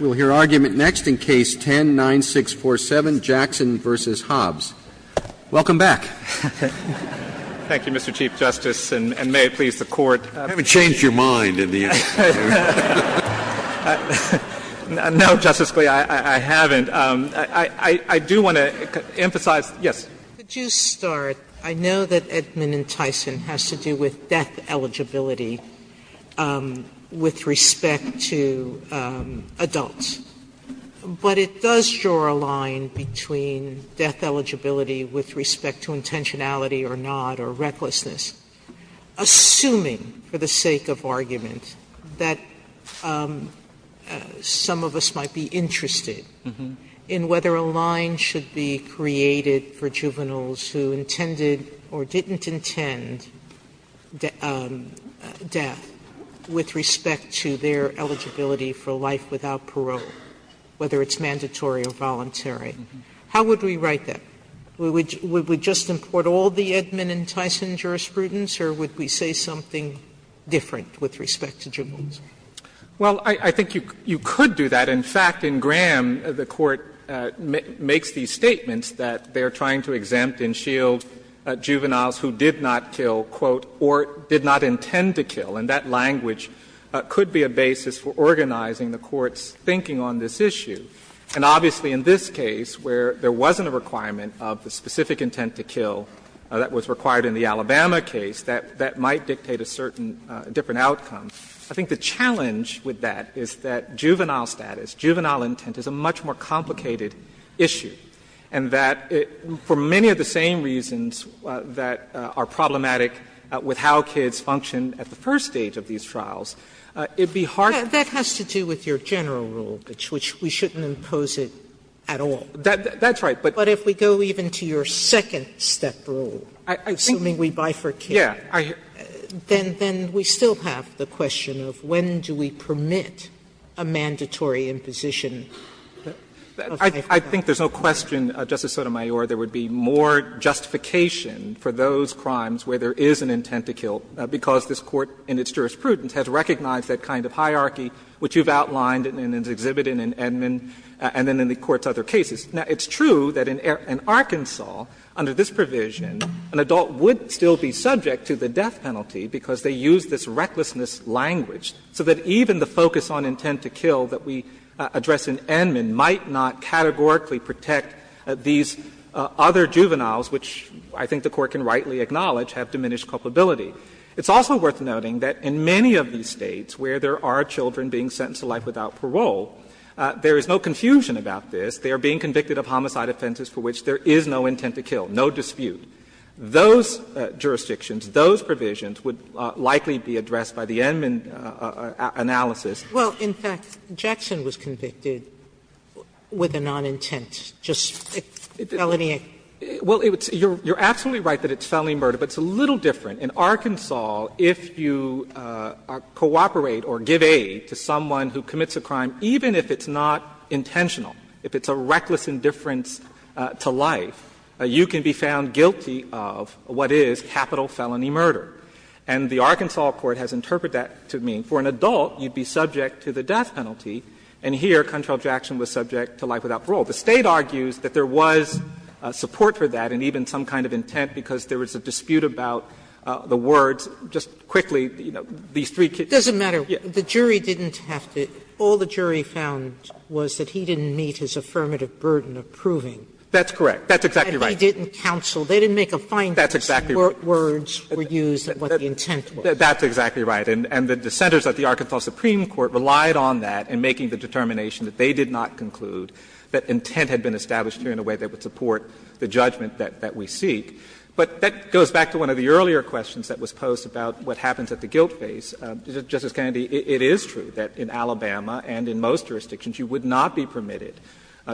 We'll hear argument next in Case 10-9647, Jackson v. Hobbs. Hobbs, Jr. Thank you, Mr. Chief Justice, and may it please the Court, I haven't changed your mind in the interview. No, Justice Scalia, I haven't. I do want to emphasize, yes. Could you start? I know that Edmund and Tyson has to do with death eligibility. With respect to adults. But it does draw a line between death eligibility with respect to intentionality or not, or recklessness, assuming, for the sake of argument, that some of us might be interested in whether a line should be created for juveniles who intended or didn't intend death with respect to their eligibility for life without parole, whether it's mandatory or voluntary. How would we write that? Would we just import all the Edmund and Tyson jurisprudence, or would we say something different with respect to juveniles? Well, I think you could do that. In fact, in Graham, the Court makes these statements that they are trying to exempt and shield juveniles who did not kill, quote, or did not intend to kill. And that language could be a basis for organizing the Court's thinking on this issue. And obviously, in this case, where there wasn't a requirement of the specific intent to kill that was required in the Alabama case, that might dictate a certain different outcome. I think the challenge with that is that juvenile status, juvenile intent, is a much more complicated issue. And that, for many of the same reasons that are problematic with how kids function at the first stage of these trials, it would be hard to do. Sotomayor That has to do with your general rule, which we shouldn't impose it at all. That's right. But if we go even to your second-step rule, assuming we bifurcate, then we still have the question of when do we permit a mandatory imposition of bifurcation. I think there's no question, Justice Sotomayor, there would be more justification for those crimes where there is an intent to kill, because this Court, in its jurisprudence, has recognized that kind of hierarchy, which you've outlined and exhibited in Edmund and in the Court's other cases. Now, it's true that in Arkansas, under this provision, an adult would still be subject to the death penalty because they used this recklessness language, so that even the other juveniles, which I think the Court can rightly acknowledge, have diminished culpability. It's also worth noting that in many of these States where there are children being sentenced to life without parole, there is no confusion about this. They are being convicted of homicide offenses for which there is no intent to kill, no dispute. Those jurisdictions, those provisions would likely be addressed by the Edmund analysis. Sotomayor, in fact, Jackson was convicted with a non-intent, just felony. Well, you're absolutely right that it's felony murder, but it's a little different. In Arkansas, if you cooperate or give aid to someone who commits a crime, even if it's not intentional, if it's a reckless indifference to life, you can be found guilty of what is capital felony murder. And the Arkansas court has interpreted that to mean for an adult, you'd be subject to the death penalty. And here, Contralt-Jackson was subject to life without parole. The State argues that there was support for that and even some kind of intent, because there was a dispute about the words, just quickly, you know, these three kids. Sotomayor, all the jury found was that he didn't meet his affirmative burden of proving. That's correct. That's exactly right. And they didn't counsel, they didn't make a finding of what words were used and what the intent was. That's exactly right. And the dissenters at the Arkansas Supreme Court relied on that in making the determination that they did not conclude that intent had been established here in a way that would support the judgment that we seek. But that goes back to one of the earlier questions that was posed about what happens at the guilt phase. Justice Kennedy, it is true that in Alabama and in most jurisdictions, you would not be permitted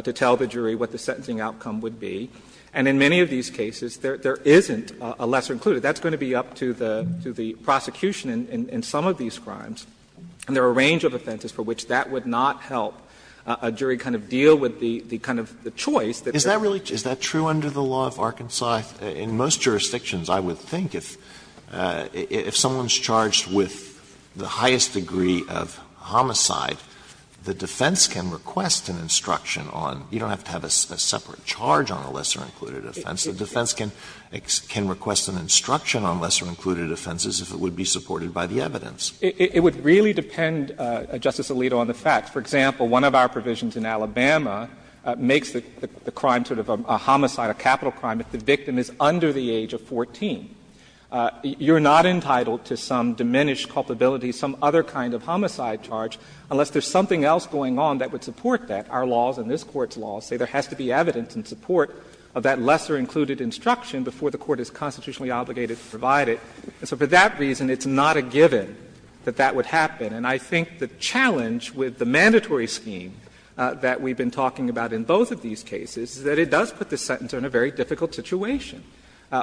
to tell the jury what the sentencing outcome would be. And in many of these cases, there isn't a lesser included. So that's going to be up to the prosecution in some of these crimes. And there are a range of offenses for which that would not help a jury kind of deal with the kind of choice that they're making. Alito, is that true under the law of Arkansas? In most jurisdictions, I would think, if someone's charged with the highest degree of homicide, the defense can request an instruction on, you don't have to have a separate charge on a lesser included offense, the defense can request an instruction on lesser included offenses if it would be supported by the evidence. It would really depend, Justice Alito, on the facts. For example, one of our provisions in Alabama makes the crime sort of a homicide, a capital crime, if the victim is under the age of 14. You're not entitled to some diminished culpability, some other kind of homicide charge, unless there's something else going on that would support that. Our laws and this Court's laws say there has to be evidence in support of that lesser culpability, and we're constitutionally obligated to provide it, and so for that reason, it's not a given that that would happen. And I think the challenge with the mandatory scheme that we've been talking about in both of these cases is that it does put the sentence in a very difficult situation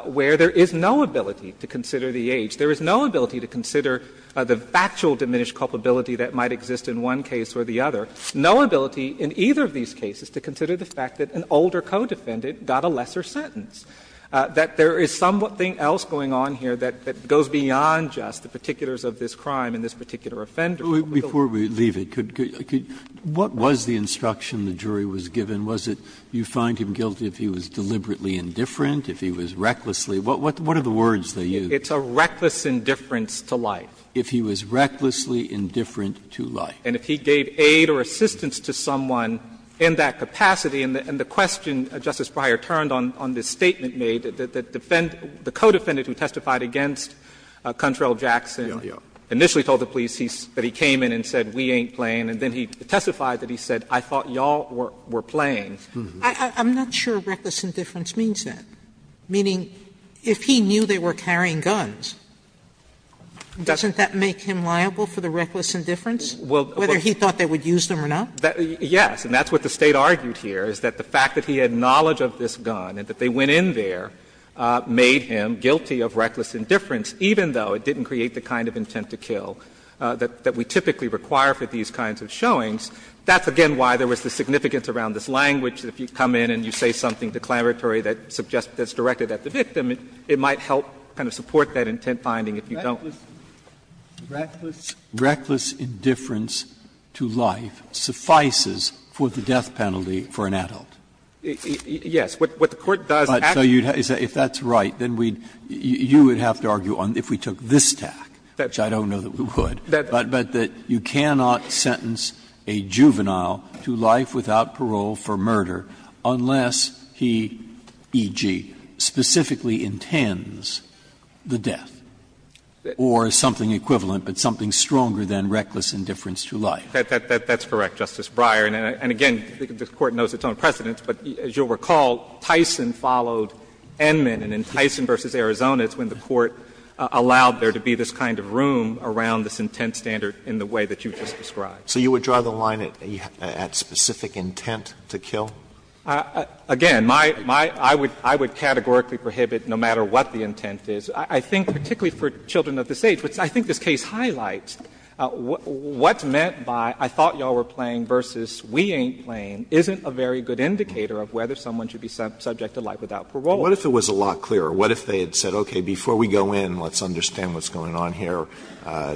where there is no ability to consider the age, there is no ability to consider the factual diminished culpability that might exist in one case or the other, no ability in either of these cases to consider the fact that an older co-defendant got a lesser sentence, that there is something else going on here that goes beyond just the particulars of this crime and this particular offender. Breyer, before we leave it, could you, what was the instruction the jury was given? Was it, you find him guilty if he was deliberately indifferent, if he was recklessly What are the words they used? It's a reckless indifference to life. If he was recklessly indifferent to life. And if he gave aid or assistance to someone in that capacity, and the question Justice Breyer turned on this statement made, that the defendant, the co-defendant who testified against Cuntrell Jackson initially told the police that he came in and said, we ain't playing, and then he testified that he said, I thought y'all were playing. I'm not sure reckless indifference means that. Meaning, if he knew they were carrying guns, doesn't that make him liable for the reckless indifference, whether he thought they would use them or not? Yes. And that's what the State argued here, is that the fact that he had knowledge of this gun and that they went in there made him guilty of reckless indifference, even though it didn't create the kind of intent to kill that we typically require for these kinds of showings. That's, again, why there was the significance around this language. If you come in and you say something declaratory that suggests that it's directed at the victim, it might help kind of support that intent finding if you don't. Breyer, reckless indifference to life suffices for the death penalty for an adult. Yes. What the Court does actually is that if that's right, then we'd you would have to argue on if we took this tack, which I don't know that we would, but that you cannot sentence a juvenile to life without parole for murder unless he, e.g., specifically intends the death, or something equivalent, but something stronger than reckless indifference to life. That's correct, Justice Breyer. And again, the Court knows its own precedents, but as you'll recall, Tyson followed Edmund, and in Tyson v. Arizona, it's when the Court allowed there to be this kind of room around this intent standard in the way that you just described. So you would draw the line at specific intent to kill? Again, my my, I would I would categorically prohibit no matter what the intent is. I think particularly for children of this age, which I think this case highlights, what's meant by I thought you all were playing versus we ain't playing isn't a very good indicator of whether someone should be subject to life without parole. What if it was a lot clearer? What if they had said, okay, before we go in, let's understand what's going on here.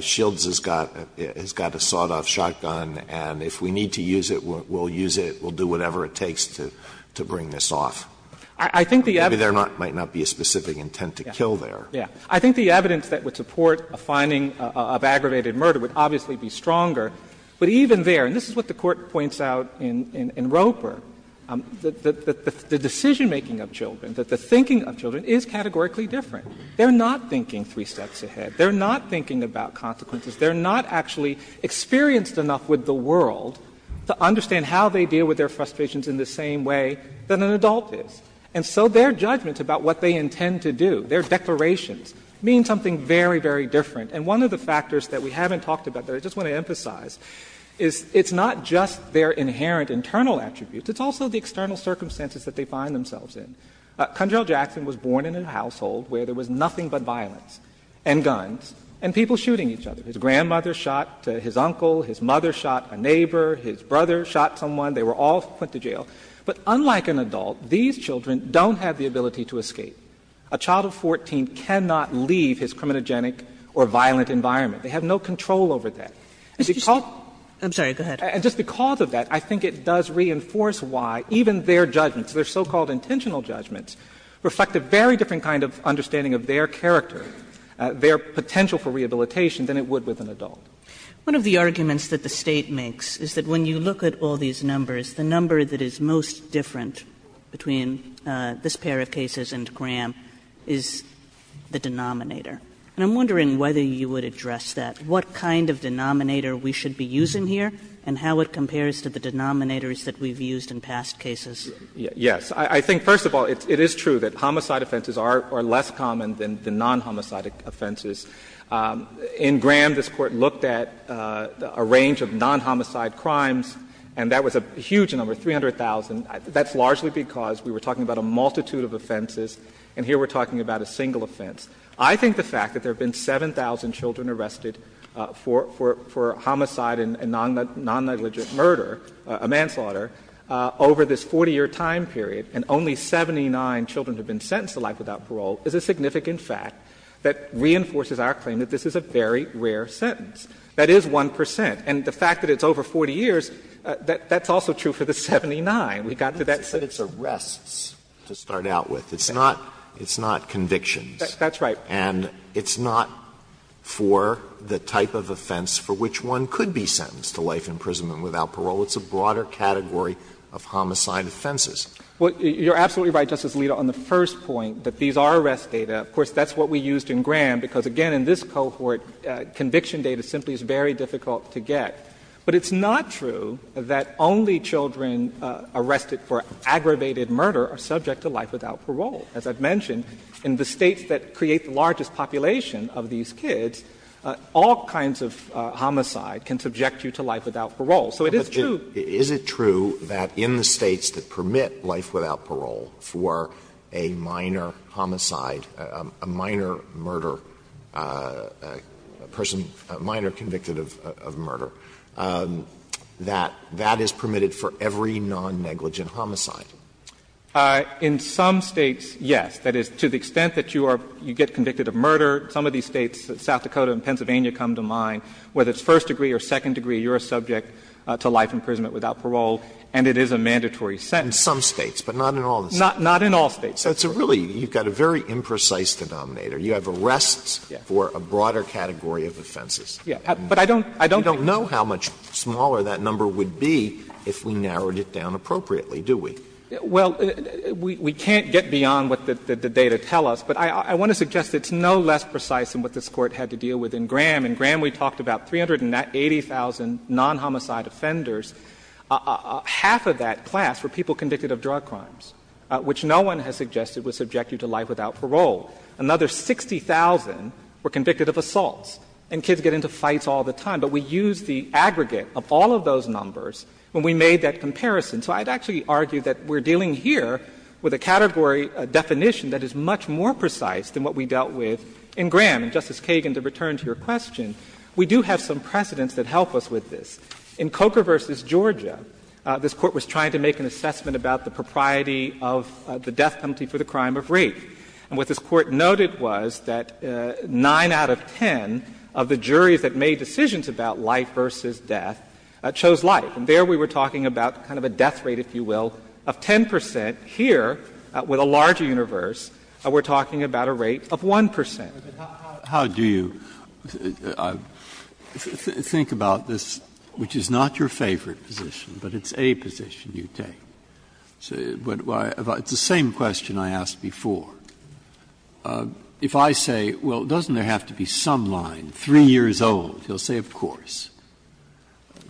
Shields has got has got a sawed-off shotgun, and if we need to use it, we'll use it, we'll do whatever it takes to to bring this off. I think the evidence. Maybe there might not be a specific intent to kill there. Yeah. I think the evidence that would support a finding of aggravated murder would obviously be stronger. But even there, and this is what the Court points out in in Roper, that the decision making of children, that the thinking of children, is categorically different. They're not thinking three steps ahead. They're not thinking about consequences. They're not actually experienced enough with the world to understand how they deal with their frustrations in the same way that an adult is. And so their judgments about what they intend to do, their declarations, mean something very, very different. And one of the factors that we haven't talked about there, I just want to emphasize, is it's not just their inherent internal attributes, it's also the external circumstances that they find themselves in. Conrail Jackson was born in a household where there was nothing but violence and guns and people shooting each other. His grandmother shot his uncle, his mother shot a neighbor, his brother shot someone. They were all put to jail. But unlike an adult, these children don't have the ability to escape. A child of 14 cannot leave his criminogenic or violent environment. They have no control over that. And because of that, I think it does reinforce why even their judgments, their so-called intentional judgments, reflect a very different kind of understanding of their character, their potential for rehabilitation, than it would with an adult. Kagan. One of the arguments that the State makes is that when you look at all these numbers, the number that is most different between this pair of cases and Graham is the denominator. And I'm wondering whether you would address that, what kind of denominator we should be using here, and how it compares to the denominators that we've used in past cases. Yes. I think, first of all, it is true that homicide offenses are less common than non-homicide offenses. In Graham, this Court looked at a range of non-homicide crimes, and that was a huge number, 300,000. That's largely because we were talking about a multitude of offenses, and here we're talking about a single offense. I think the fact that there have been 7,000 children arrested for homicide and non-negligent murder, a manslaughter, over this 40-year time period, and only 79 children have been sentenced to life without parole, is a significant fact that reinforces our claim that this is a very rare sentence. That is 1 percent. And the fact that it's over 40 years, that's also true for the 79. We got to that. But it's arrests to start out with. It's not convictions. That's right. And it's not for the type of offense for which one could be sentenced to life in prison and without parole. It's a broader category of homicide offenses. Well, you're absolutely right, Justice Alito, on the first point, that these are arrest data. Of course, that's what we used in Graham, because, again, in this cohort, conviction data simply is very difficult to get. But it's not true that only children arrested for aggravated murder are subject to life without parole. As I've mentioned, in the States that create the largest population of these kids, all kinds of homicide can subject you to life without parole. So it is true. Is it true that in the States that permit life without parole for a minor homicide, a minor murder, a person, a minor convicted of murder, that that is permitted for every non-negligent homicide? In some States, yes. That is, to the extent that you are you get convicted of murder, some of these States, South Dakota and Pennsylvania, come to mind, whether it's first degree or second degree, there is no life imprisonment without parole, and it is a mandatory sentence. Alito, in some States, but not in all the States. Not in all States. So it's a really, you've got a very imprecise denominator. You have arrests for a broader category of offenses. Yes. But I don't think we know how much smaller that number would be if we narrowed it down appropriately, do we? Well, we can't get beyond what the data tell us, but I want to suggest it's no less precise than what this Court had to deal with in Graham. In Graham, we talked about 380,000 non-homicide offenders. Half of that class were people convicted of drug crimes, which no one has suggested would subject you to life without parole. Another 60,000 were convicted of assaults, and kids get into fights all the time. But we used the aggregate of all of those numbers when we made that comparison. So I'd actually argue that we're dealing here with a category definition that is much more precise than what we dealt with in Graham. And, Justice Kagan, to return to your question, we do have some precedents that help us with this. In Coker v. Georgia, this Court was trying to make an assessment about the propriety of the death penalty for the crime of rape. And what this Court noted was that 9 out of 10 of the juries that made decisions about life v. death chose life. And there we were talking about kind of a death rate, if you will, of 10 percent. Here, with a larger universe, we're talking about a rate of 1 percent. Breyer, how do you think about this, which is not your favorite position, but it's a position you take? It's the same question I asked before. If I say, well, doesn't there have to be some line, 3 years old, he'll say, of course.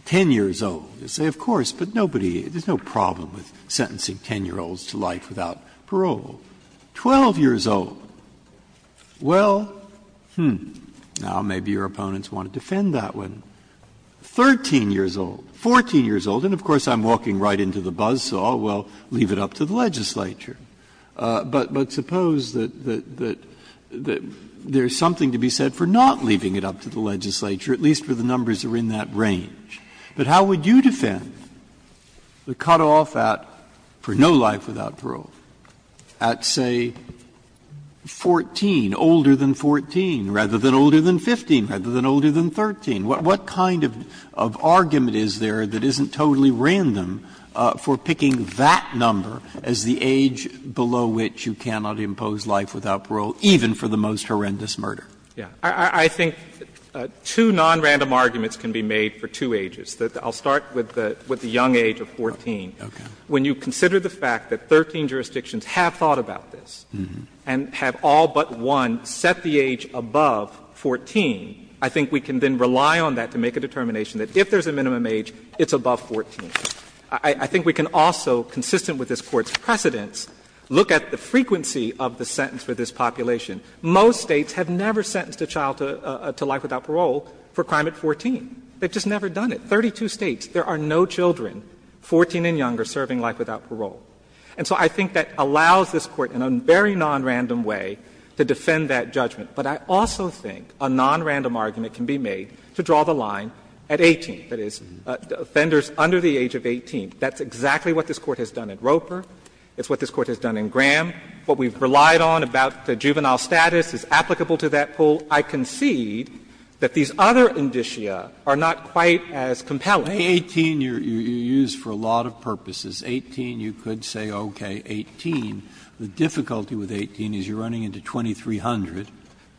10 years old, he'll say, of course, but nobody — there's no problem with sentencing 10-year-olds to life without parole. 12 years old, well, hmm, now, maybe your opponents want to defend that one. 13 years old, 14 years old, and of course, I'm walking right into the buzz saw, well, leave it up to the legislature. But suppose that there's something to be said for not leaving it up to the legislature, at least for the numbers that are in that range. But how would you defend the cutoff at for no life without parole? At, say, 14, older than 14, rather than older than 15, rather than older than 13. What kind of argument is there that isn't totally random for picking that number as the age below which you cannot impose life without parole, even for the most horrendous murder? I think two nonrandom arguments can be made for two ages. I'll start with the young age of 14. When you consider the fact that 13 jurisdictions have thought about this and have all but one set the age above 14, I think we can then rely on that to make a determination that if there's a minimum age, it's above 14. I think we can also, consistent with this Court's precedents, look at the frequency of the sentence for this population. Most States have never sentenced a child to life without parole for a crime at 14. They've just never done it. In 32 States, there are no children 14 and younger serving life without parole. And so I think that allows this Court, in a very nonrandom way, to defend that judgment. But I also think a nonrandom argument can be made to draw the line at 18, that is, offenders under the age of 18. That's exactly what this Court has done at Roper. It's what this Court has done in Graham. What we've relied on about the juvenile status is applicable to that pool. So I concede that these other indicia are not quite as compelling. Breyer. 18 you use for a lot of purposes. 18, you could say, okay, 18. The difficulty with 18 is you're running into 2300,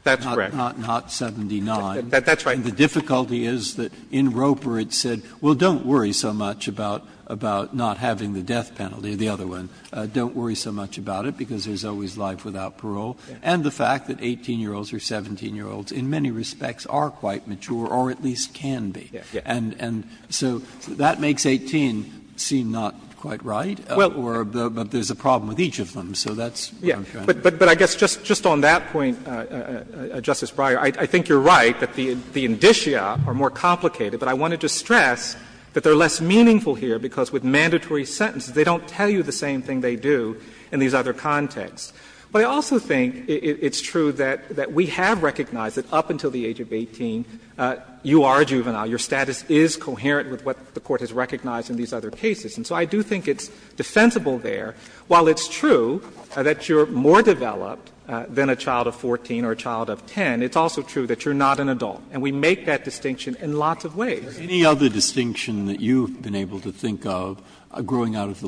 not 79. That's right. And the difficulty is that in Roper it said, well, don't worry so much about not having the death penalty, the other one. Don't worry so much about it, because there's always life without parole. And the fact that 18-year-olds or 17-year-olds in many respects are quite mature or at least can be. And so that makes 18 seem not quite right. Or there's a problem with each of them. So that's what I'm trying to say. But I guess just on that point, Justice Breyer, I think you're right that the indicia are more complicated. But I wanted to stress that they're less meaningful here, because with mandatory sentences they don't tell you the same thing they do in these other contexts. But I also think it's true that we have recognized that up until the age of 18 you are a juvenile. Your status is coherent with what the Court has recognized in these other cases. And so I do think it's defensible there. While it's true that you're more developed than a child of 14 or a child of 10, it's also true that you're not an adult. And we make that distinction in lots of ways. Breyer, any other distinction that you've been able to think of growing out of the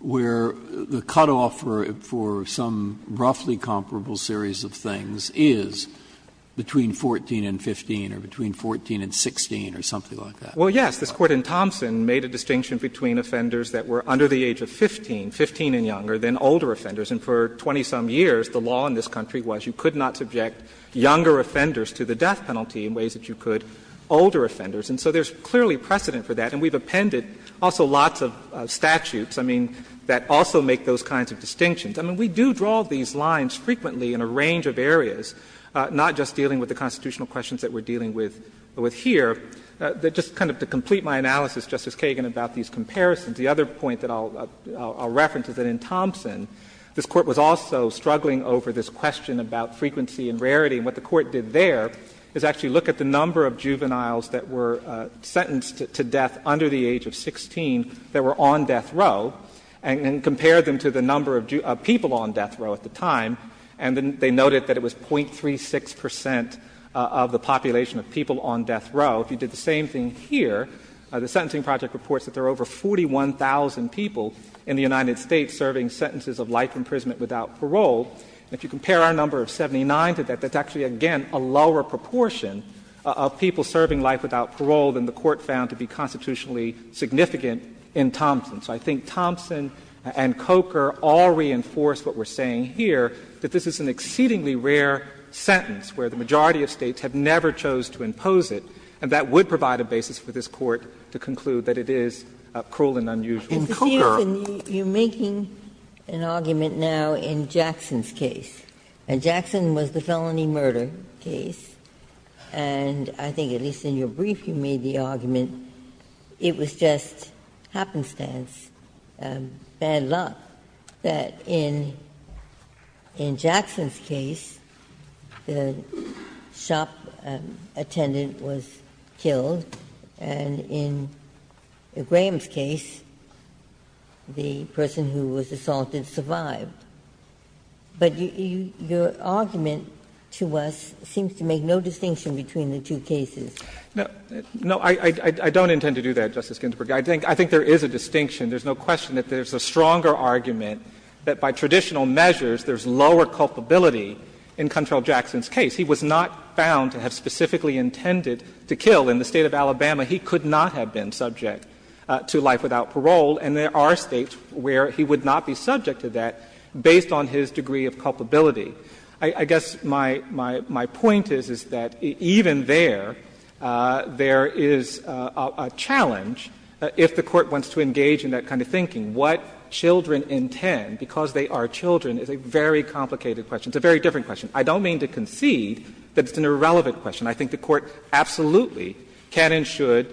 where the cutoff for some roughly comparable series of things is between 14 and 15 or between 14 and 16 or something like that? Well, yes. This Court in Thompson made a distinction between offenders that were under the age of 15, 15 and younger, than older offenders. And for 20-some years the law in this country was you could not subject younger offenders to the death penalty in ways that you could older offenders. And so there's clearly precedent for that. And we've appended also lots of statutes, I mean, that also make those kinds of distinctions. I mean, we do draw these lines frequently in a range of areas, not just dealing with the constitutional questions that we're dealing with here. Just kind of to complete my analysis, Justice Kagan, about these comparisons, the other point that I'll reference is that in Thompson this Court was also struggling over this question about frequency and rarity. And what the Court did there is actually look at the number of juveniles that were sentenced to death under the age of 16 that were on death row and compared them to the number of people on death row at the time, and then they noted that it was .36 percent of the population of people on death row. If you did the same thing here, the Sentencing Project reports that there are over 41,000 people in the United States serving sentences of life imprisonment without parole. And if you compare our number of 79 to that, that's actually, again, a lower proportion of people serving life without parole than the Court found to be constitutionally significant in Thompson. So I think Thompson and Coker all reinforce what we're saying here, that this is an exceedingly rare sentence where the majority of States have never chose to impose it, and that would provide a basis for this Court to conclude that it is cruel and unusual. Ginsburg. Ginsburg. Ginsburg. You're making an argument now in Jackson's case, and Jackson was the felony murder case, and I think, at least in your brief, you made the argument it was just happenstance, bad luck that in Jackson's case the shop attendant was killed, and in Graham's case the person who was assaulted survived. But your argument to us seems to make no distinction between the two cases. No, I don't intend to do that, Justice Ginsburg. I think there is a distinction. There's no question that there's a stronger argument that by traditional measures there's lower culpability in Control Jackson's case. He was not found to have specifically intended to kill. In the State of Alabama, he could not have been subject to life without parole, and there are States where he would not be subject to that based on his degree of culpability. I guess my point is, is that even there, there is a challenge if the Court wants to engage in that kind of thinking. What children intend, because they are children, is a very complicated question. It's a very different question. I don't mean to concede that it's an irrelevant question. I think the Court absolutely can and should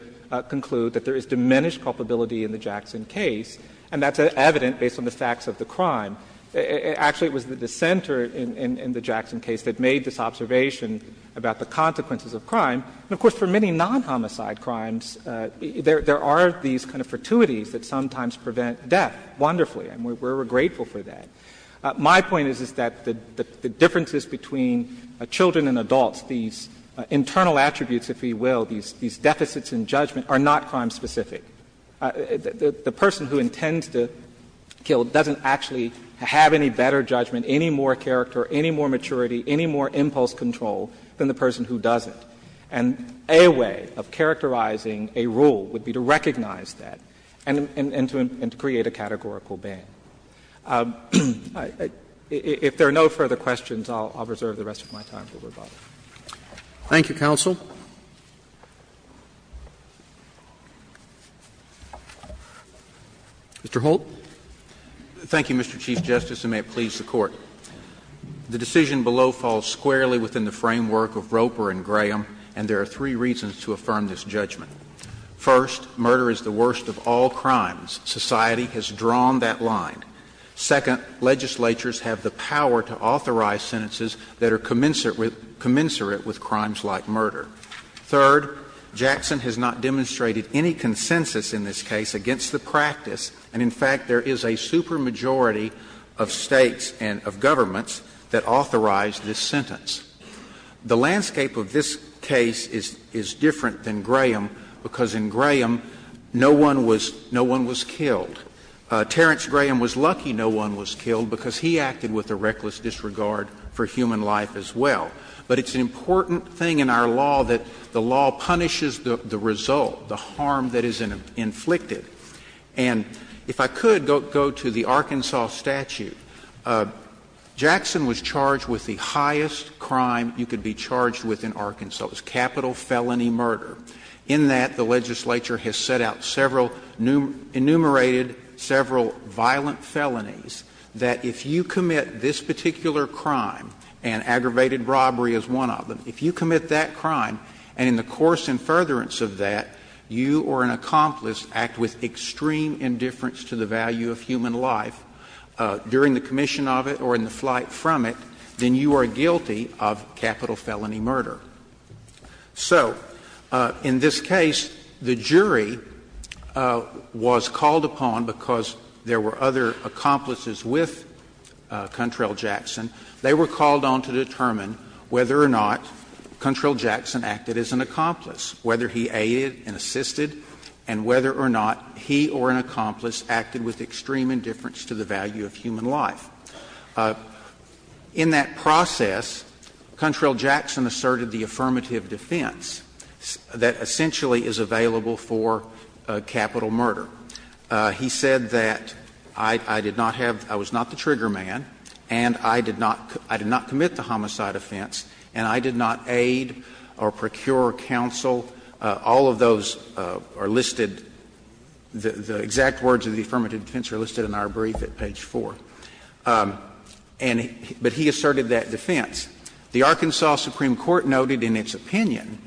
conclude that there is diminished culpability in the Jackson case, and that's evident based on the facts of the crime. Actually, it was the dissenter in the Jackson case that made this observation about the consequences of crime. And of course, for many non-homicide crimes, there are these kind of fortuities that sometimes prevent death wonderfully, and we're grateful for that. My point is, is that the differences between children and adults, these internal attributes, if you will, these deficits in judgment, are not crime-specific. The person who intends to kill doesn't actually have any better judgment, any more character, any more maturity, any more impulse control than the person who does it. And a way of characterizing a rule would be to recognize that and to create a categorical ban. If there are no further questions, I'll reserve the rest of my time to rebutt. Roberts. Thank you, counsel. Mr. Holt. Thank you, Mr. Chief Justice, and may it please the Court. The decision below falls squarely within the framework of Roper and Graham, and there are three reasons to affirm this judgment. First, murder is the worst of all crimes. Society has drawn that line. Second, legislatures have the power to authorize sentences that are commensurate with crimes like murder. Third, Jackson has not demonstrated any consensus in this case against the practice, and in fact, there is a supermajority of States and of governments that authorize this sentence. The landscape of this case is different than Graham, because in Graham, no one was killed. Terrence Graham was lucky no one was killed, because he acted with a reckless disregard for human life as well. But it's an important thing in our law that the law punishes the result, the harm that is inflicted. And if I could go to the Arkansas statute, Jackson was charged with the highest crime you could be charged with in Arkansas. It was capital felony murder. In that, the legislature has set out several enumerated, several violent felonies that if you commit this particular crime, and aggravated robbery is one of them, if you commit that crime, and in the course and furtherance of that, you or an accomplice act with extreme indifference to the value of human life during the commission of it or in the flight from it, then you are guilty of capital felony murder. So in this case, the jury was called upon because there were other accomplices with Contrell-Jackson. They were called on to determine whether or not Contrell-Jackson acted as an accomplice, whether he aided and assisted, and whether or not he or an accomplice acted with In that process, Contrell-Jackson asserted the affirmative defense that essentially is available for capital murder. He said that I did not have, I was not the trigger man, and I did not commit the homicide offense, and I did not aid or procure counsel. All of those are listed, the exact words of the affirmative defense are listed in our brief at page 4. And he, but he asserted that defense. The Arkansas Supreme Court noted in its opinion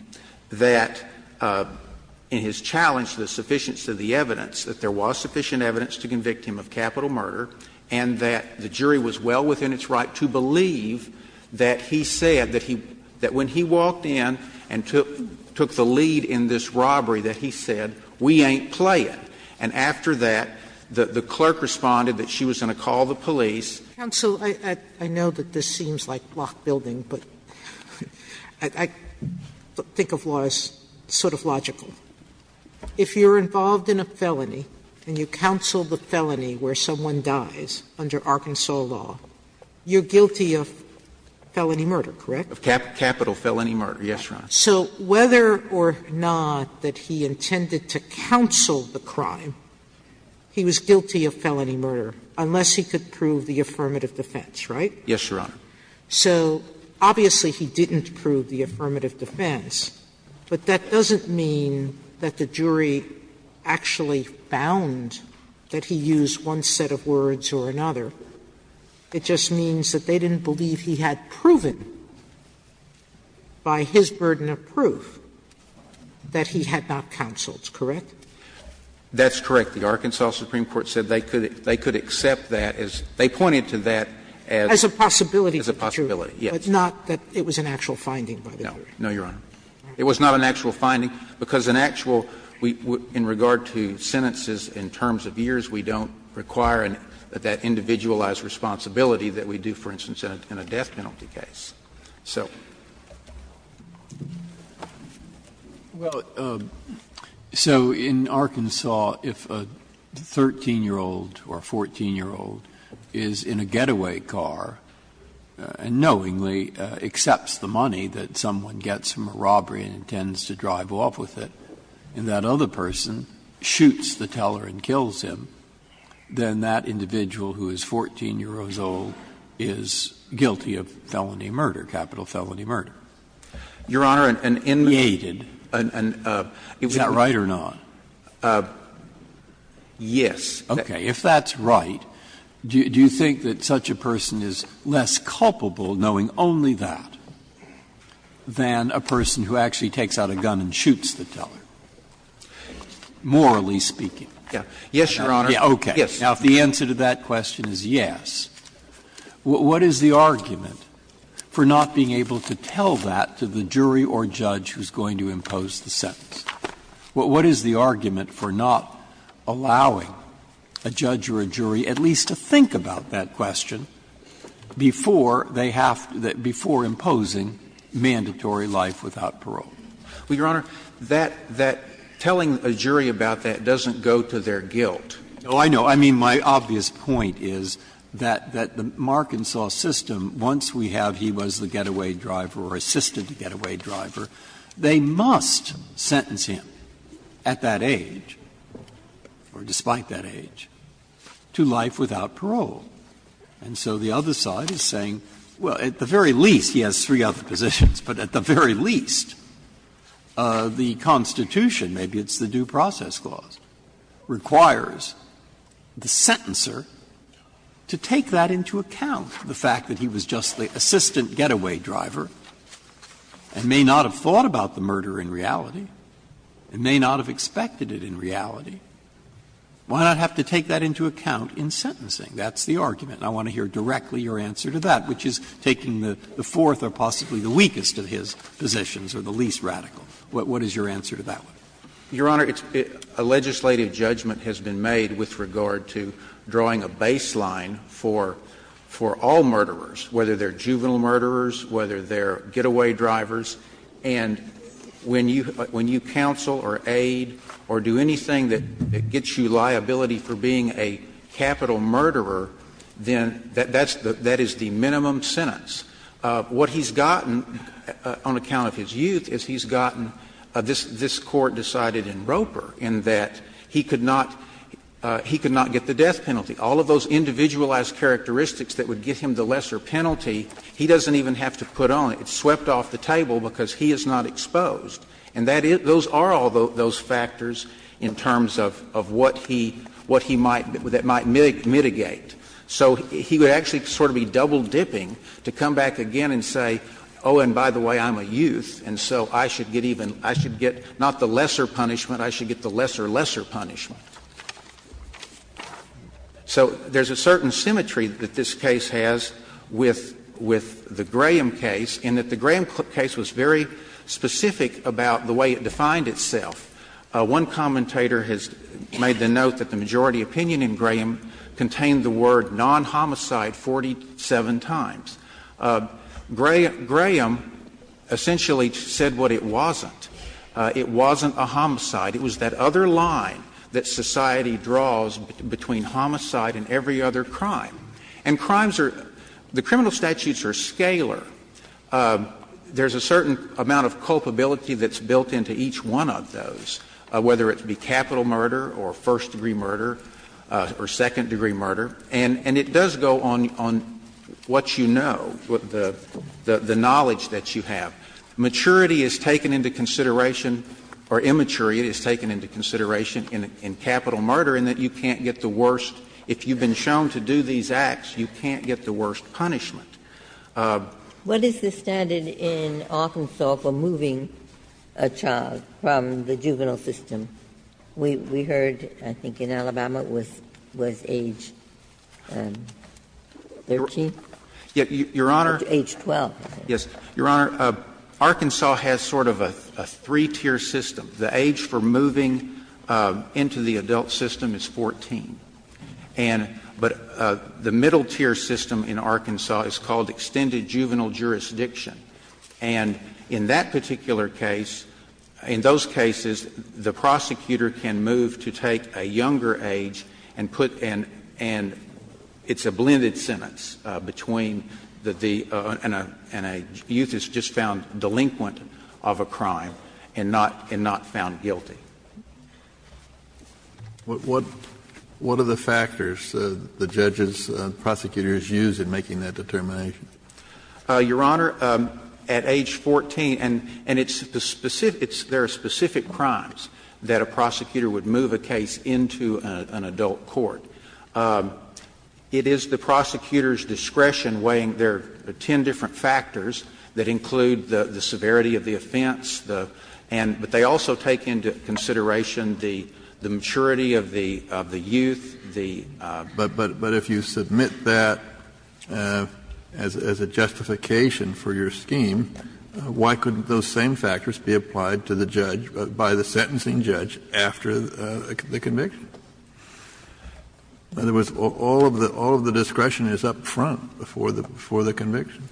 that in his challenge to the sufficiency of the evidence, that there was sufficient evidence to convict him of capital murder, and that the jury was well within its right to believe that he said that he, that when he walked in and took the lead in this robbery, that he said, we ain't playing. And after that, the clerk responded that she was going to call the police. Sotomayor, I know that this seems like block building, but I think of law as sort of logical. If you're involved in a felony and you counsel the felony where someone dies under Arkansas law, you're guilty of felony murder, correct? Of capital felony murder, yes, Your Honor. Sotomayor, so whether or not that he intended to counsel the crime, he was guilty of felony murder, unless he could prove the affirmative defense, right? Yes, Your Honor. So obviously, he didn't prove the affirmative defense, but that doesn't mean that the jury actually found that he used one set of words or another. It just means that they didn't believe he had proven by his burden of evidence or by his burden of proof that he had not counseled, correct? That's correct. The Arkansas Supreme Court said they could accept that as they pointed to that as a possibility. As a possibility, yes. But not that it was an actual finding, by the jury. No, no, Your Honor. It was not an actual finding, because an actual, in regard to sentences in terms of years, we don't require that individualized responsibility that we do, for instance, in a death penalty case. So. Breyer, so in Arkansas, if a 13-year-old or 14-year-old is in a getaway car and knowingly accepts the money that someone gets from a robbery and intends to drive off with it, and that other person shoots the teller and kills him, then that individual who is 14 years old is guilty of felony murder, capital felony murder? Your Honor, an inmate. Is that right or not? Yes. Okay. If that's right, do you think that such a person is less culpable knowing only that than a person who actually takes out a gun and shoots the teller, morally speaking? Yes, Your Honor. Okay. Yes. The answer to that question is yes. What is the argument for not being able to tell that to the jury or judge who is going to impose the sentence? What is the argument for not allowing a judge or a jury at least to think about that question before they have to before imposing mandatory life without parole? Well, Your Honor, that telling a jury about that doesn't go to their guilt. Oh, I know. I mean, my obvious point is that the Markinsoff system, once we have he was the getaway driver or assisted getaway driver, they must sentence him at that age, or despite that age, to life without parole. And so the other side is saying, well, at the very least, he has three other positions, but at the very least, the Constitution, maybe it's the Due Process Clause, requires the sentencer to take that into account, the fact that he was just the assistant getaway driver and may not have thought about the murder in reality, and may not have expected it in reality. Why not have to take that into account in sentencing? That's the argument, and I want to hear directly your answer to that, which is taking the fourth or possibly the weakest of his positions or the least radical. What is your answer to that one? Your Honor, a legislative judgment has been made with regard to drawing a baseline for all murderers, whether they're juvenile murderers, whether they're getaway drivers, and when you counsel or aid or do anything that gets you liability for being a capital murderer, then that is the minimum sentence. What he's gotten on account of his youth is he's gotten this Court decided that he could not get the death penalty. All of those individualized characteristics that would give him the lesser penalty, he doesn't even have to put on it. It's swept off the table because he is not exposed, and that is — those are all those factors in terms of what he — what he might — that might mitigate. So he would actually sort of be double-dipping to come back again and say, oh, and by the way, I'm a youth, and so I should get even — I should get not the lesser punishment, I should get the lesser, lesser punishment. So there's a certain symmetry that this case has with — with the Graham case in that the Graham case was very specific about the way it defined itself. One commentator has made the note that the majority opinion in Graham contained the word non-homicide 47 times. Graham essentially said what it wasn't. It wasn't a homicide. It was that other line that society draws between homicide and every other crime. And crimes are — the criminal statutes are scalar. There's a certain amount of culpability that's built into each one of those, whether it be capital murder or first-degree murder or second-degree murder. And it does go on what you know, the knowledge that you have. Maturity is taken into consideration, or immaturity is taken into consideration in capital murder, in that you can't get the worst — if you've been shown to do these acts, you can't get the worst punishment. What is the standard in Arkansas for moving a child from the juvenile system? We heard, I think, in Alabama it was age 13? Your Honor. Age 12. Yes. Your Honor, Arkansas has sort of a three-tier system. The age for moving into the adult system is 14. And — but the middle-tier system in Arkansas is called extended juvenile jurisdiction. And in that particular case, in those cases, the prosecutor can move to take a younger age and put — and it's a blended sentence between the — and a youth is just found delinquent of a crime and not — and not found guilty. What are the factors the judges, prosecutors use in making that determination? Your Honor, at age 14 — and it's the specific — there are specific crimes that a prosecutor would move a case into an adult court. It is the prosecutor's discretion weighing their ten different factors that include the severity of the offense, the — and — but they also take into consideration the maturity of the youth, the — But if you submit that as a justification for your scheme, why couldn't those same factors be applied to the judge, by the sentencing judge, after the conviction? In other words, all of the — all of the discretion is up front before the conviction.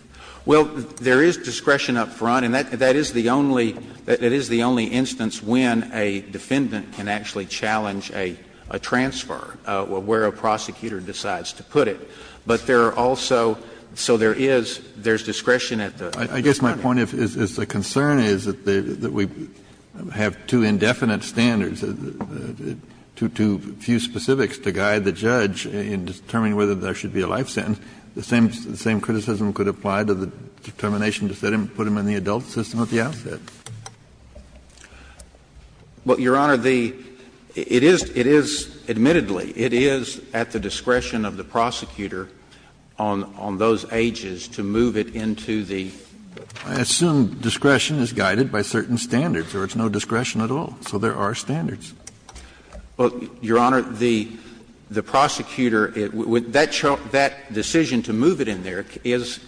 Well, there is discretion up front, and that is the only — that is the only instance when a defendant can actually challenge a transfer, where a prosecutor decides to put it. But there are also — so there is — there's discretion at the — I guess my point is the concern is that we have two indefinite standards, too few specifics to guide the judge in determining whether there should be a life sentence. The same criticism could apply to the determination to set him — put him in the adult system at the outset. Well, Your Honor, the — it is — it is — admittedly, it is at the discretion of the prosecutor on — on those ages to move it into the — I assume discretion is guided by certain standards, or it's no discretion at all. So there are standards. Well, Your Honor, the — the prosecutor — that decision to move it in there is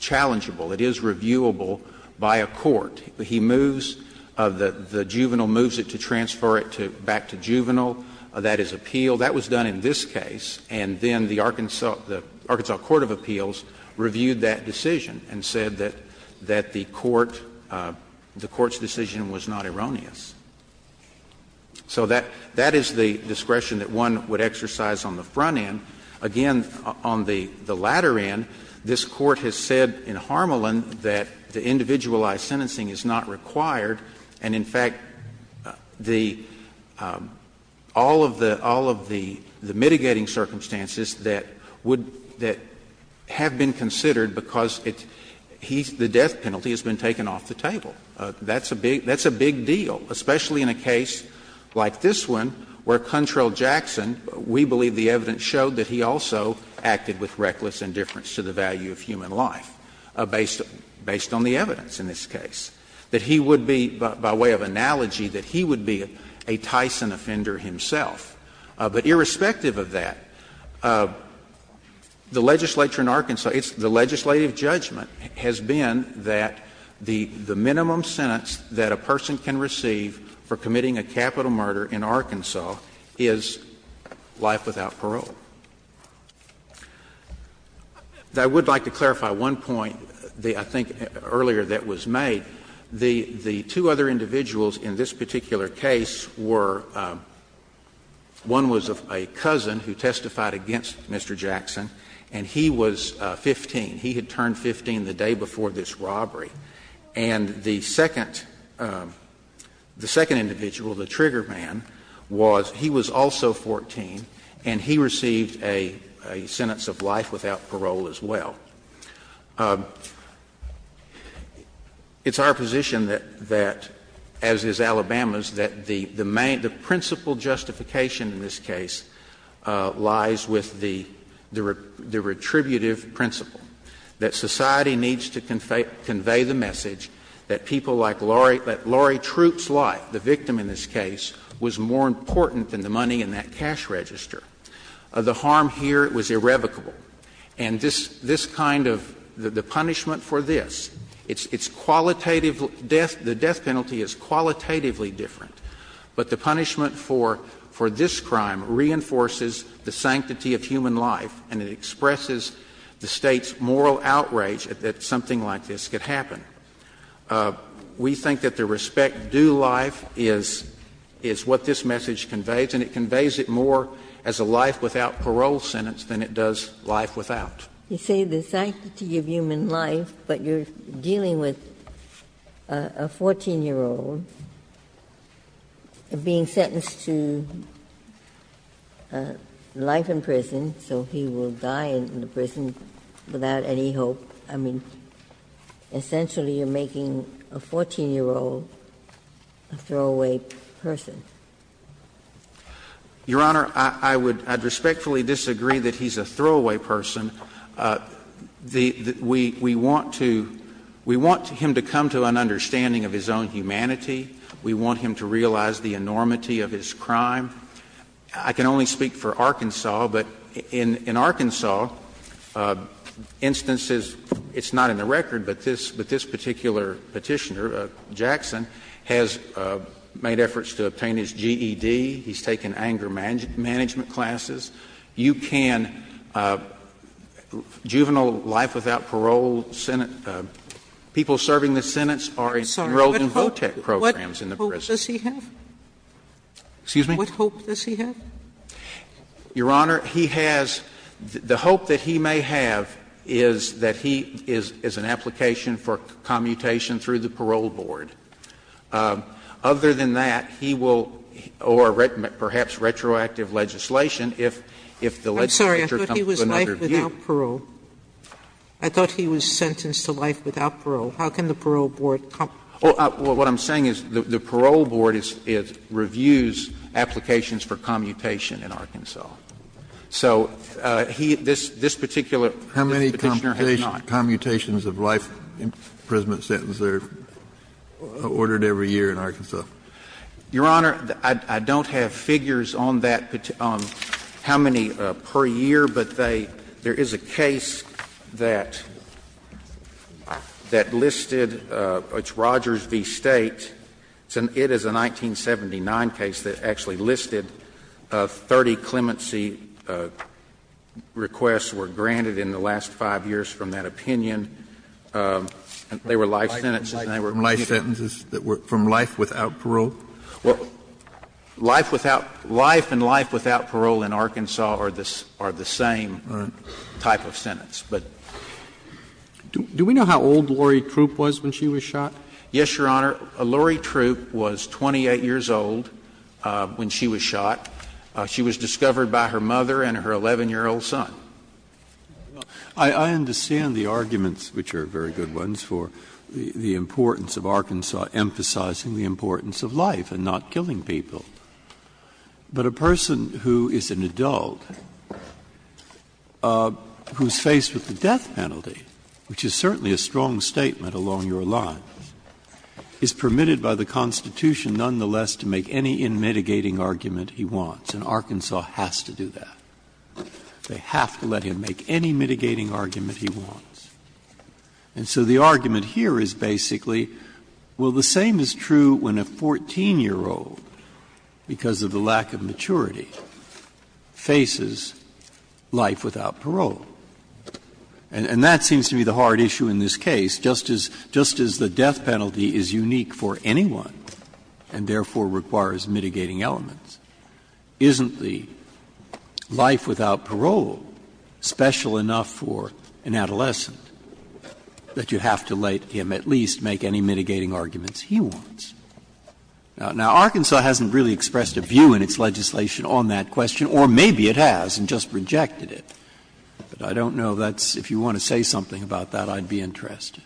challengeable. It is reviewable by a court. He moves — the juvenile moves it to transfer it to — back to juvenile. That is appealed. Well, that was done in this case, and then the Arkansas — the Arkansas Court of Appeals reviewed that decision and said that — that the court — the court's decision was not erroneous. So that — that is the discretion that one would exercise on the front end. Again, on the — the latter end, this Court has said in Harmelin that the individualized sentencing is not required, and in fact, the — all of the — all of the — all of the mitigating circumstances that would — that have been considered because it's — he's — the death penalty has been taken off the table. That's a big — that's a big deal, especially in a case like this one, where Cuntrell Jackson, we believe the evidence showed that he also acted with reckless indifference to the value of human life, based — based on the evidence in this case, that he would be, by way of analogy, that he would be a Tyson offender himself. But irrespective of that, the legislature in Arkansas, it's — the legislative judgment has been that the minimum sentence that a person can receive for committing a capital murder in Arkansas is life without parole. I would like to clarify one point, I think, earlier that was made. The two other individuals in this particular case were — one was a cousin who testified against Mr. Jackson, and he was 15. He had turned 15 the day before this robbery. And the second — the second individual, the trigger man, was — he was also 14, and he received a sentence of life without parole as well. It's our position that — that, as is Alabama's, that the main — the principal justification in this case lies with the — the retributive principle, that society needs to convey the message that people like Laurie — that Laurie Troop's life, the victim in this case, was more important than the money in that cash register. The harm here was irrevocable. And this — this kind of — the punishment for this, it's qualitative — the death penalty is qualitatively different, but the punishment for — for this crime reinforces the sanctity of human life, and it expresses the State's moral outrage that something like this could happen. We think that the respect due life is — is what this message conveys, and it conveys it more as a life-without-parole sentence than it does life-without. Ginsburg You say the sanctity of human life, but you're dealing with a 14-year-old being sentenced to life in prison, so he will die in the prison without any hope. I mean, essentially you're making a 14-year-old a throwaway person. Chief Justice Alito Your Honor, I would — I'd respectfully disagree that he's a throwaway person. We want to — we want him to come to an understanding of his own humanity. We want him to realize the enormity of his crime. I can only speak for Arkansas, but in Arkansas, instances — it's not in the record, but this particular Petitioner, Jackson, has made efforts to obtain his GED. He's taken anger management classes. You can — juvenile life-without-parole sentence — people serving this sentence are enrolled in VOTEC programs in the prison. Sotomayor What hope does he have? Chief Justice Alito Excuse me? Sotomayor What hope does he have? Chief Justice Alito Your Honor, he has — the hope that he may have is that he is an application for commutation through the parole board. Other than that, he will — or perhaps retroactive legislation, if the legislature comes to another view. Sotomayor I'm sorry, I thought he was life-without-parole. I thought he was sentenced to life-without-parole. How can the parole board come to that? Chief Justice Alito Well, what I'm saying is the parole board is — reviews applications for commutation in Arkansas. So he — this particular Petitioner has not. Kennedy Commutations of life imprisonment sentence are ordered every year in Arkansas. Chief Justice Alito Your Honor, I don't have figures on that — on how many per year. But they — there is a case that — that listed — it's Rogers v. State. It is a 1979 case that actually listed 30 clemency requests were granted in the last five years from that opinion. They were life sentences and they were commutated. Kennedy Commutations from life sentences that were from life without parole? Chief Justice Alito Well, life without — life and life without parole in Arkansas are the same type of sentence. But do we know how old Lori Troop was when she was shot? Yes, Your Honor. Lori Troop was 28 years old when she was shot. She was discovered by her mother and her 11-year-old son. Breyer I understand the arguments, which are very good ones, for the importance of Arkansas emphasizing the importance of life and not killing people. But a person who is an adult, who is faced with the death penalty, which is certainly a strong statement along your line, is permitted by the Constitution nonetheless to make any inmitigating argument he wants. And Arkansas has to do that. They have to let him make any mitigating argument he wants. And so the argument here is basically, well, the same is true when a 14-year-old, because of the lack of maturity, faces life without parole. And that seems to be the hard issue in this case. Just as the death penalty is unique for anyone and therefore requires mitigating elements, isn't the life without parole special enough for an adolescent that you have to let him at least make any mitigating arguments he wants? Now, Arkansas hasn't really expressed a view in its legislation on that question, or maybe it has and just rejected it. But I don't know if that's – if you want to say something about that, I'd be interested.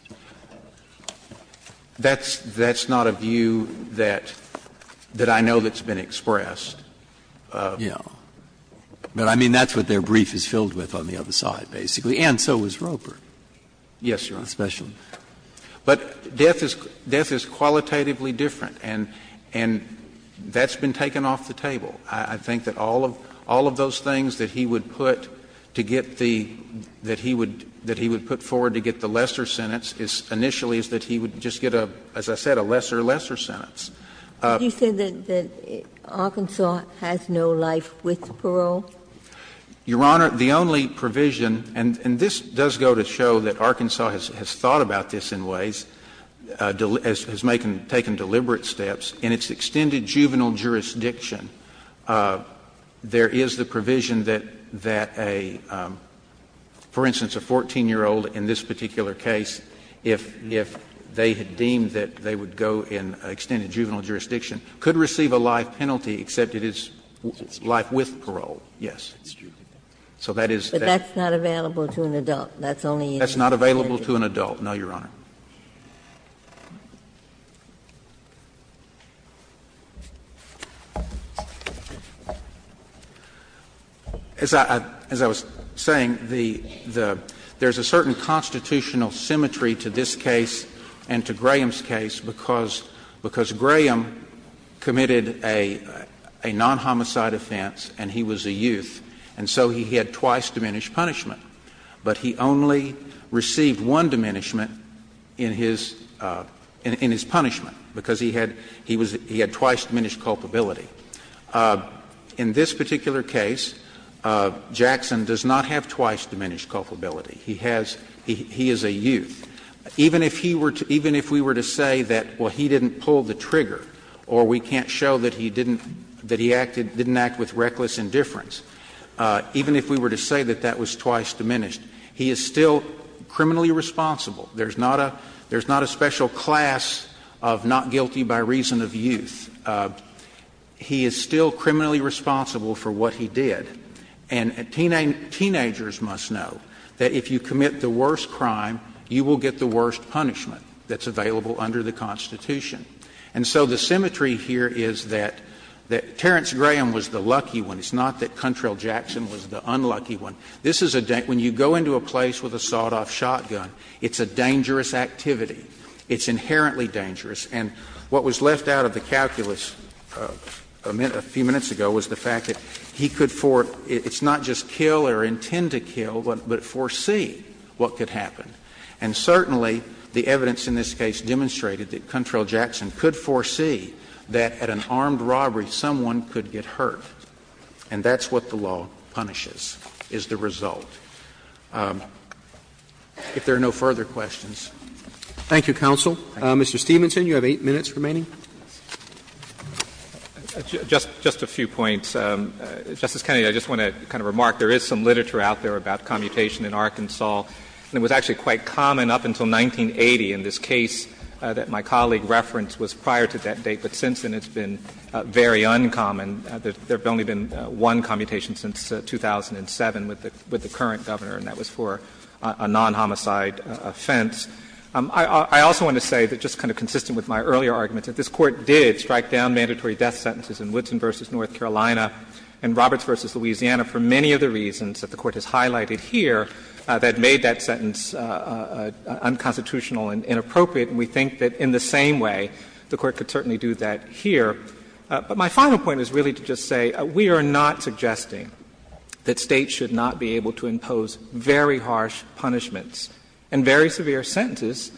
That's not a view that I know that's been expressed. Breyer. But I mean, that's what their brief is filled with on the other side, basically. And so is Roper. Yes, Your Honor. Especially. But death is qualitatively different, and that's been taken off the table. I think that all of those things that he would put to get the – that he would put to get the lesser sentence initially is that he would just get a, as I said, a lesser, lesser sentence. Did you say that Arkansas has no life with parole? Your Honor, the only provision – and this does go to show that Arkansas has thought about this in ways, has taken deliberate steps. In its extended juvenile jurisdiction, there is the provision that a, for instance, a 14-year-old in this particular case, if they had deemed that they would go in extended juvenile jurisdiction, could receive a life penalty except it is life with parole. Yes. So that is that. But that's not available to an adult. That's only in the extended. That's not available to an adult, no, Your Honor. As I – as I was saying, the – there's a certain constitutional symmetry to this case and to Graham's case because – because Graham committed a non-homicide offense and he was a youth, and so he had twice diminished punishment. But he only received one diminishment in his – in his punishment because he had – he was – he had twice diminished culpability. In this particular case, Jackson does not have twice diminished culpability. He has – he is a youth. Even if he were to – even if we were to say that, well, he didn't pull the trigger or we can't show that he didn't – that he acted – didn't act with reckless indifference, even if we were to say that that was twice diminished, he is still criminally responsible. There's not a – there's not a special class of not guilty by reason of youth. He is still criminally responsible for what he did. And teenagers must know that if you commit the worst crime, you will get the worst punishment that's available under the Constitution. And so the symmetry here is that Terrence Graham was the lucky one. It's not that Cuntrell Jackson was the unlucky one. This is a – when you go into a place with a sawed-off shotgun, it's a dangerous activity. It's inherently dangerous. And what was left out of the calculus a few minutes ago was the fact that he could for – it's not just kill or intend to kill, but foresee what could happen. And certainly, the evidence in this case demonstrated that Cuntrell Jackson could foresee that at an armed robbery, someone could get hurt. And that's what the law punishes, is the result. If there are no further questions. Roberts. Thank you, counsel. Mr. Stevenson, you have 8 minutes remaining. Just a few points. Justice Kennedy, I just want to kind of remark, there is some literature out there about commutation in Arkansas. And it was actually quite common up until 1980 in this case that my colleague referenced was prior to that date. But since then, it's been very uncommon. There's only been one commutation since 2007 with the current Governor, and that was for a non-homicide offense. I also want to say that just kind of consistent with my earlier arguments, that this Court did strike down mandatory death sentences in Woodson v. North Carolina right here that made that sentence unconstitutional and inappropriate. And we think that in the same way, the Court could certainly do that here. But my final point is really to just say we are not suggesting that States should not be able to impose very harsh punishments and very severe sentences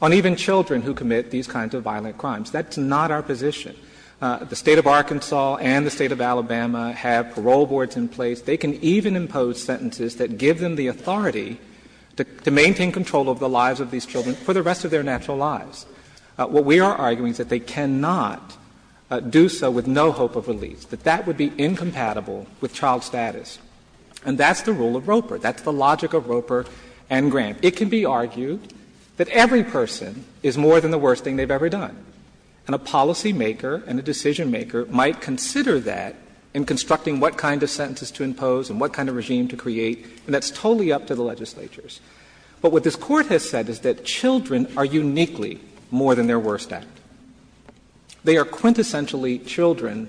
on even children who commit these kinds of violent crimes. That's not our position. The State of Arkansas and the State of Alabama have parole boards in place. They can even impose sentences that give them the authority to maintain control over the lives of these children for the rest of their natural lives. What we are arguing is that they cannot do so with no hope of release, that that would be incompatible with child status. And that's the rule of Roper. That's the logic of Roper and Grant. It can be argued that every person is more than the worst thing they've ever done. And a policymaker and a decisionmaker might consider that in constructing what kind of sentences to impose and what kind of regime to create, and that's totally up to the legislatures. But what this Court has said is that children are uniquely more than their worst act. They are quintessentially children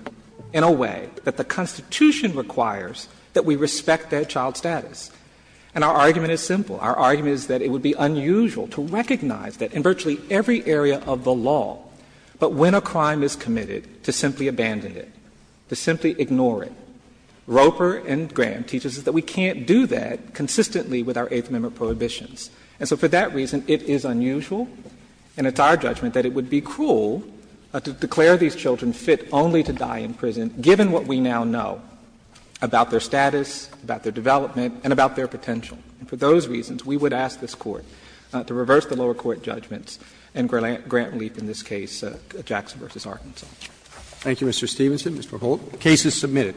in a way that the Constitution requires that we respect their child status. And our argument is simple. Our argument is that it would be unusual to recognize that in virtually every area of the law, but when a crime is committed, to simply abandon it, to simply ignore it. Roper and Grant teaches us that we can't do that consistently with our Eighth Amendment prohibitions. And so for that reason, it is unusual, and it's our judgment, that it would be cruel to declare these children fit only to die in prison, given what we now know about their status, about their development, and about their potential. And for those reasons, we would ask this Court to reverse the lower court judgments and grant relief in this case, Jackson v. Arkansas. Thank you, Mr. Stevenson. Mr. Holt. The case is submitted.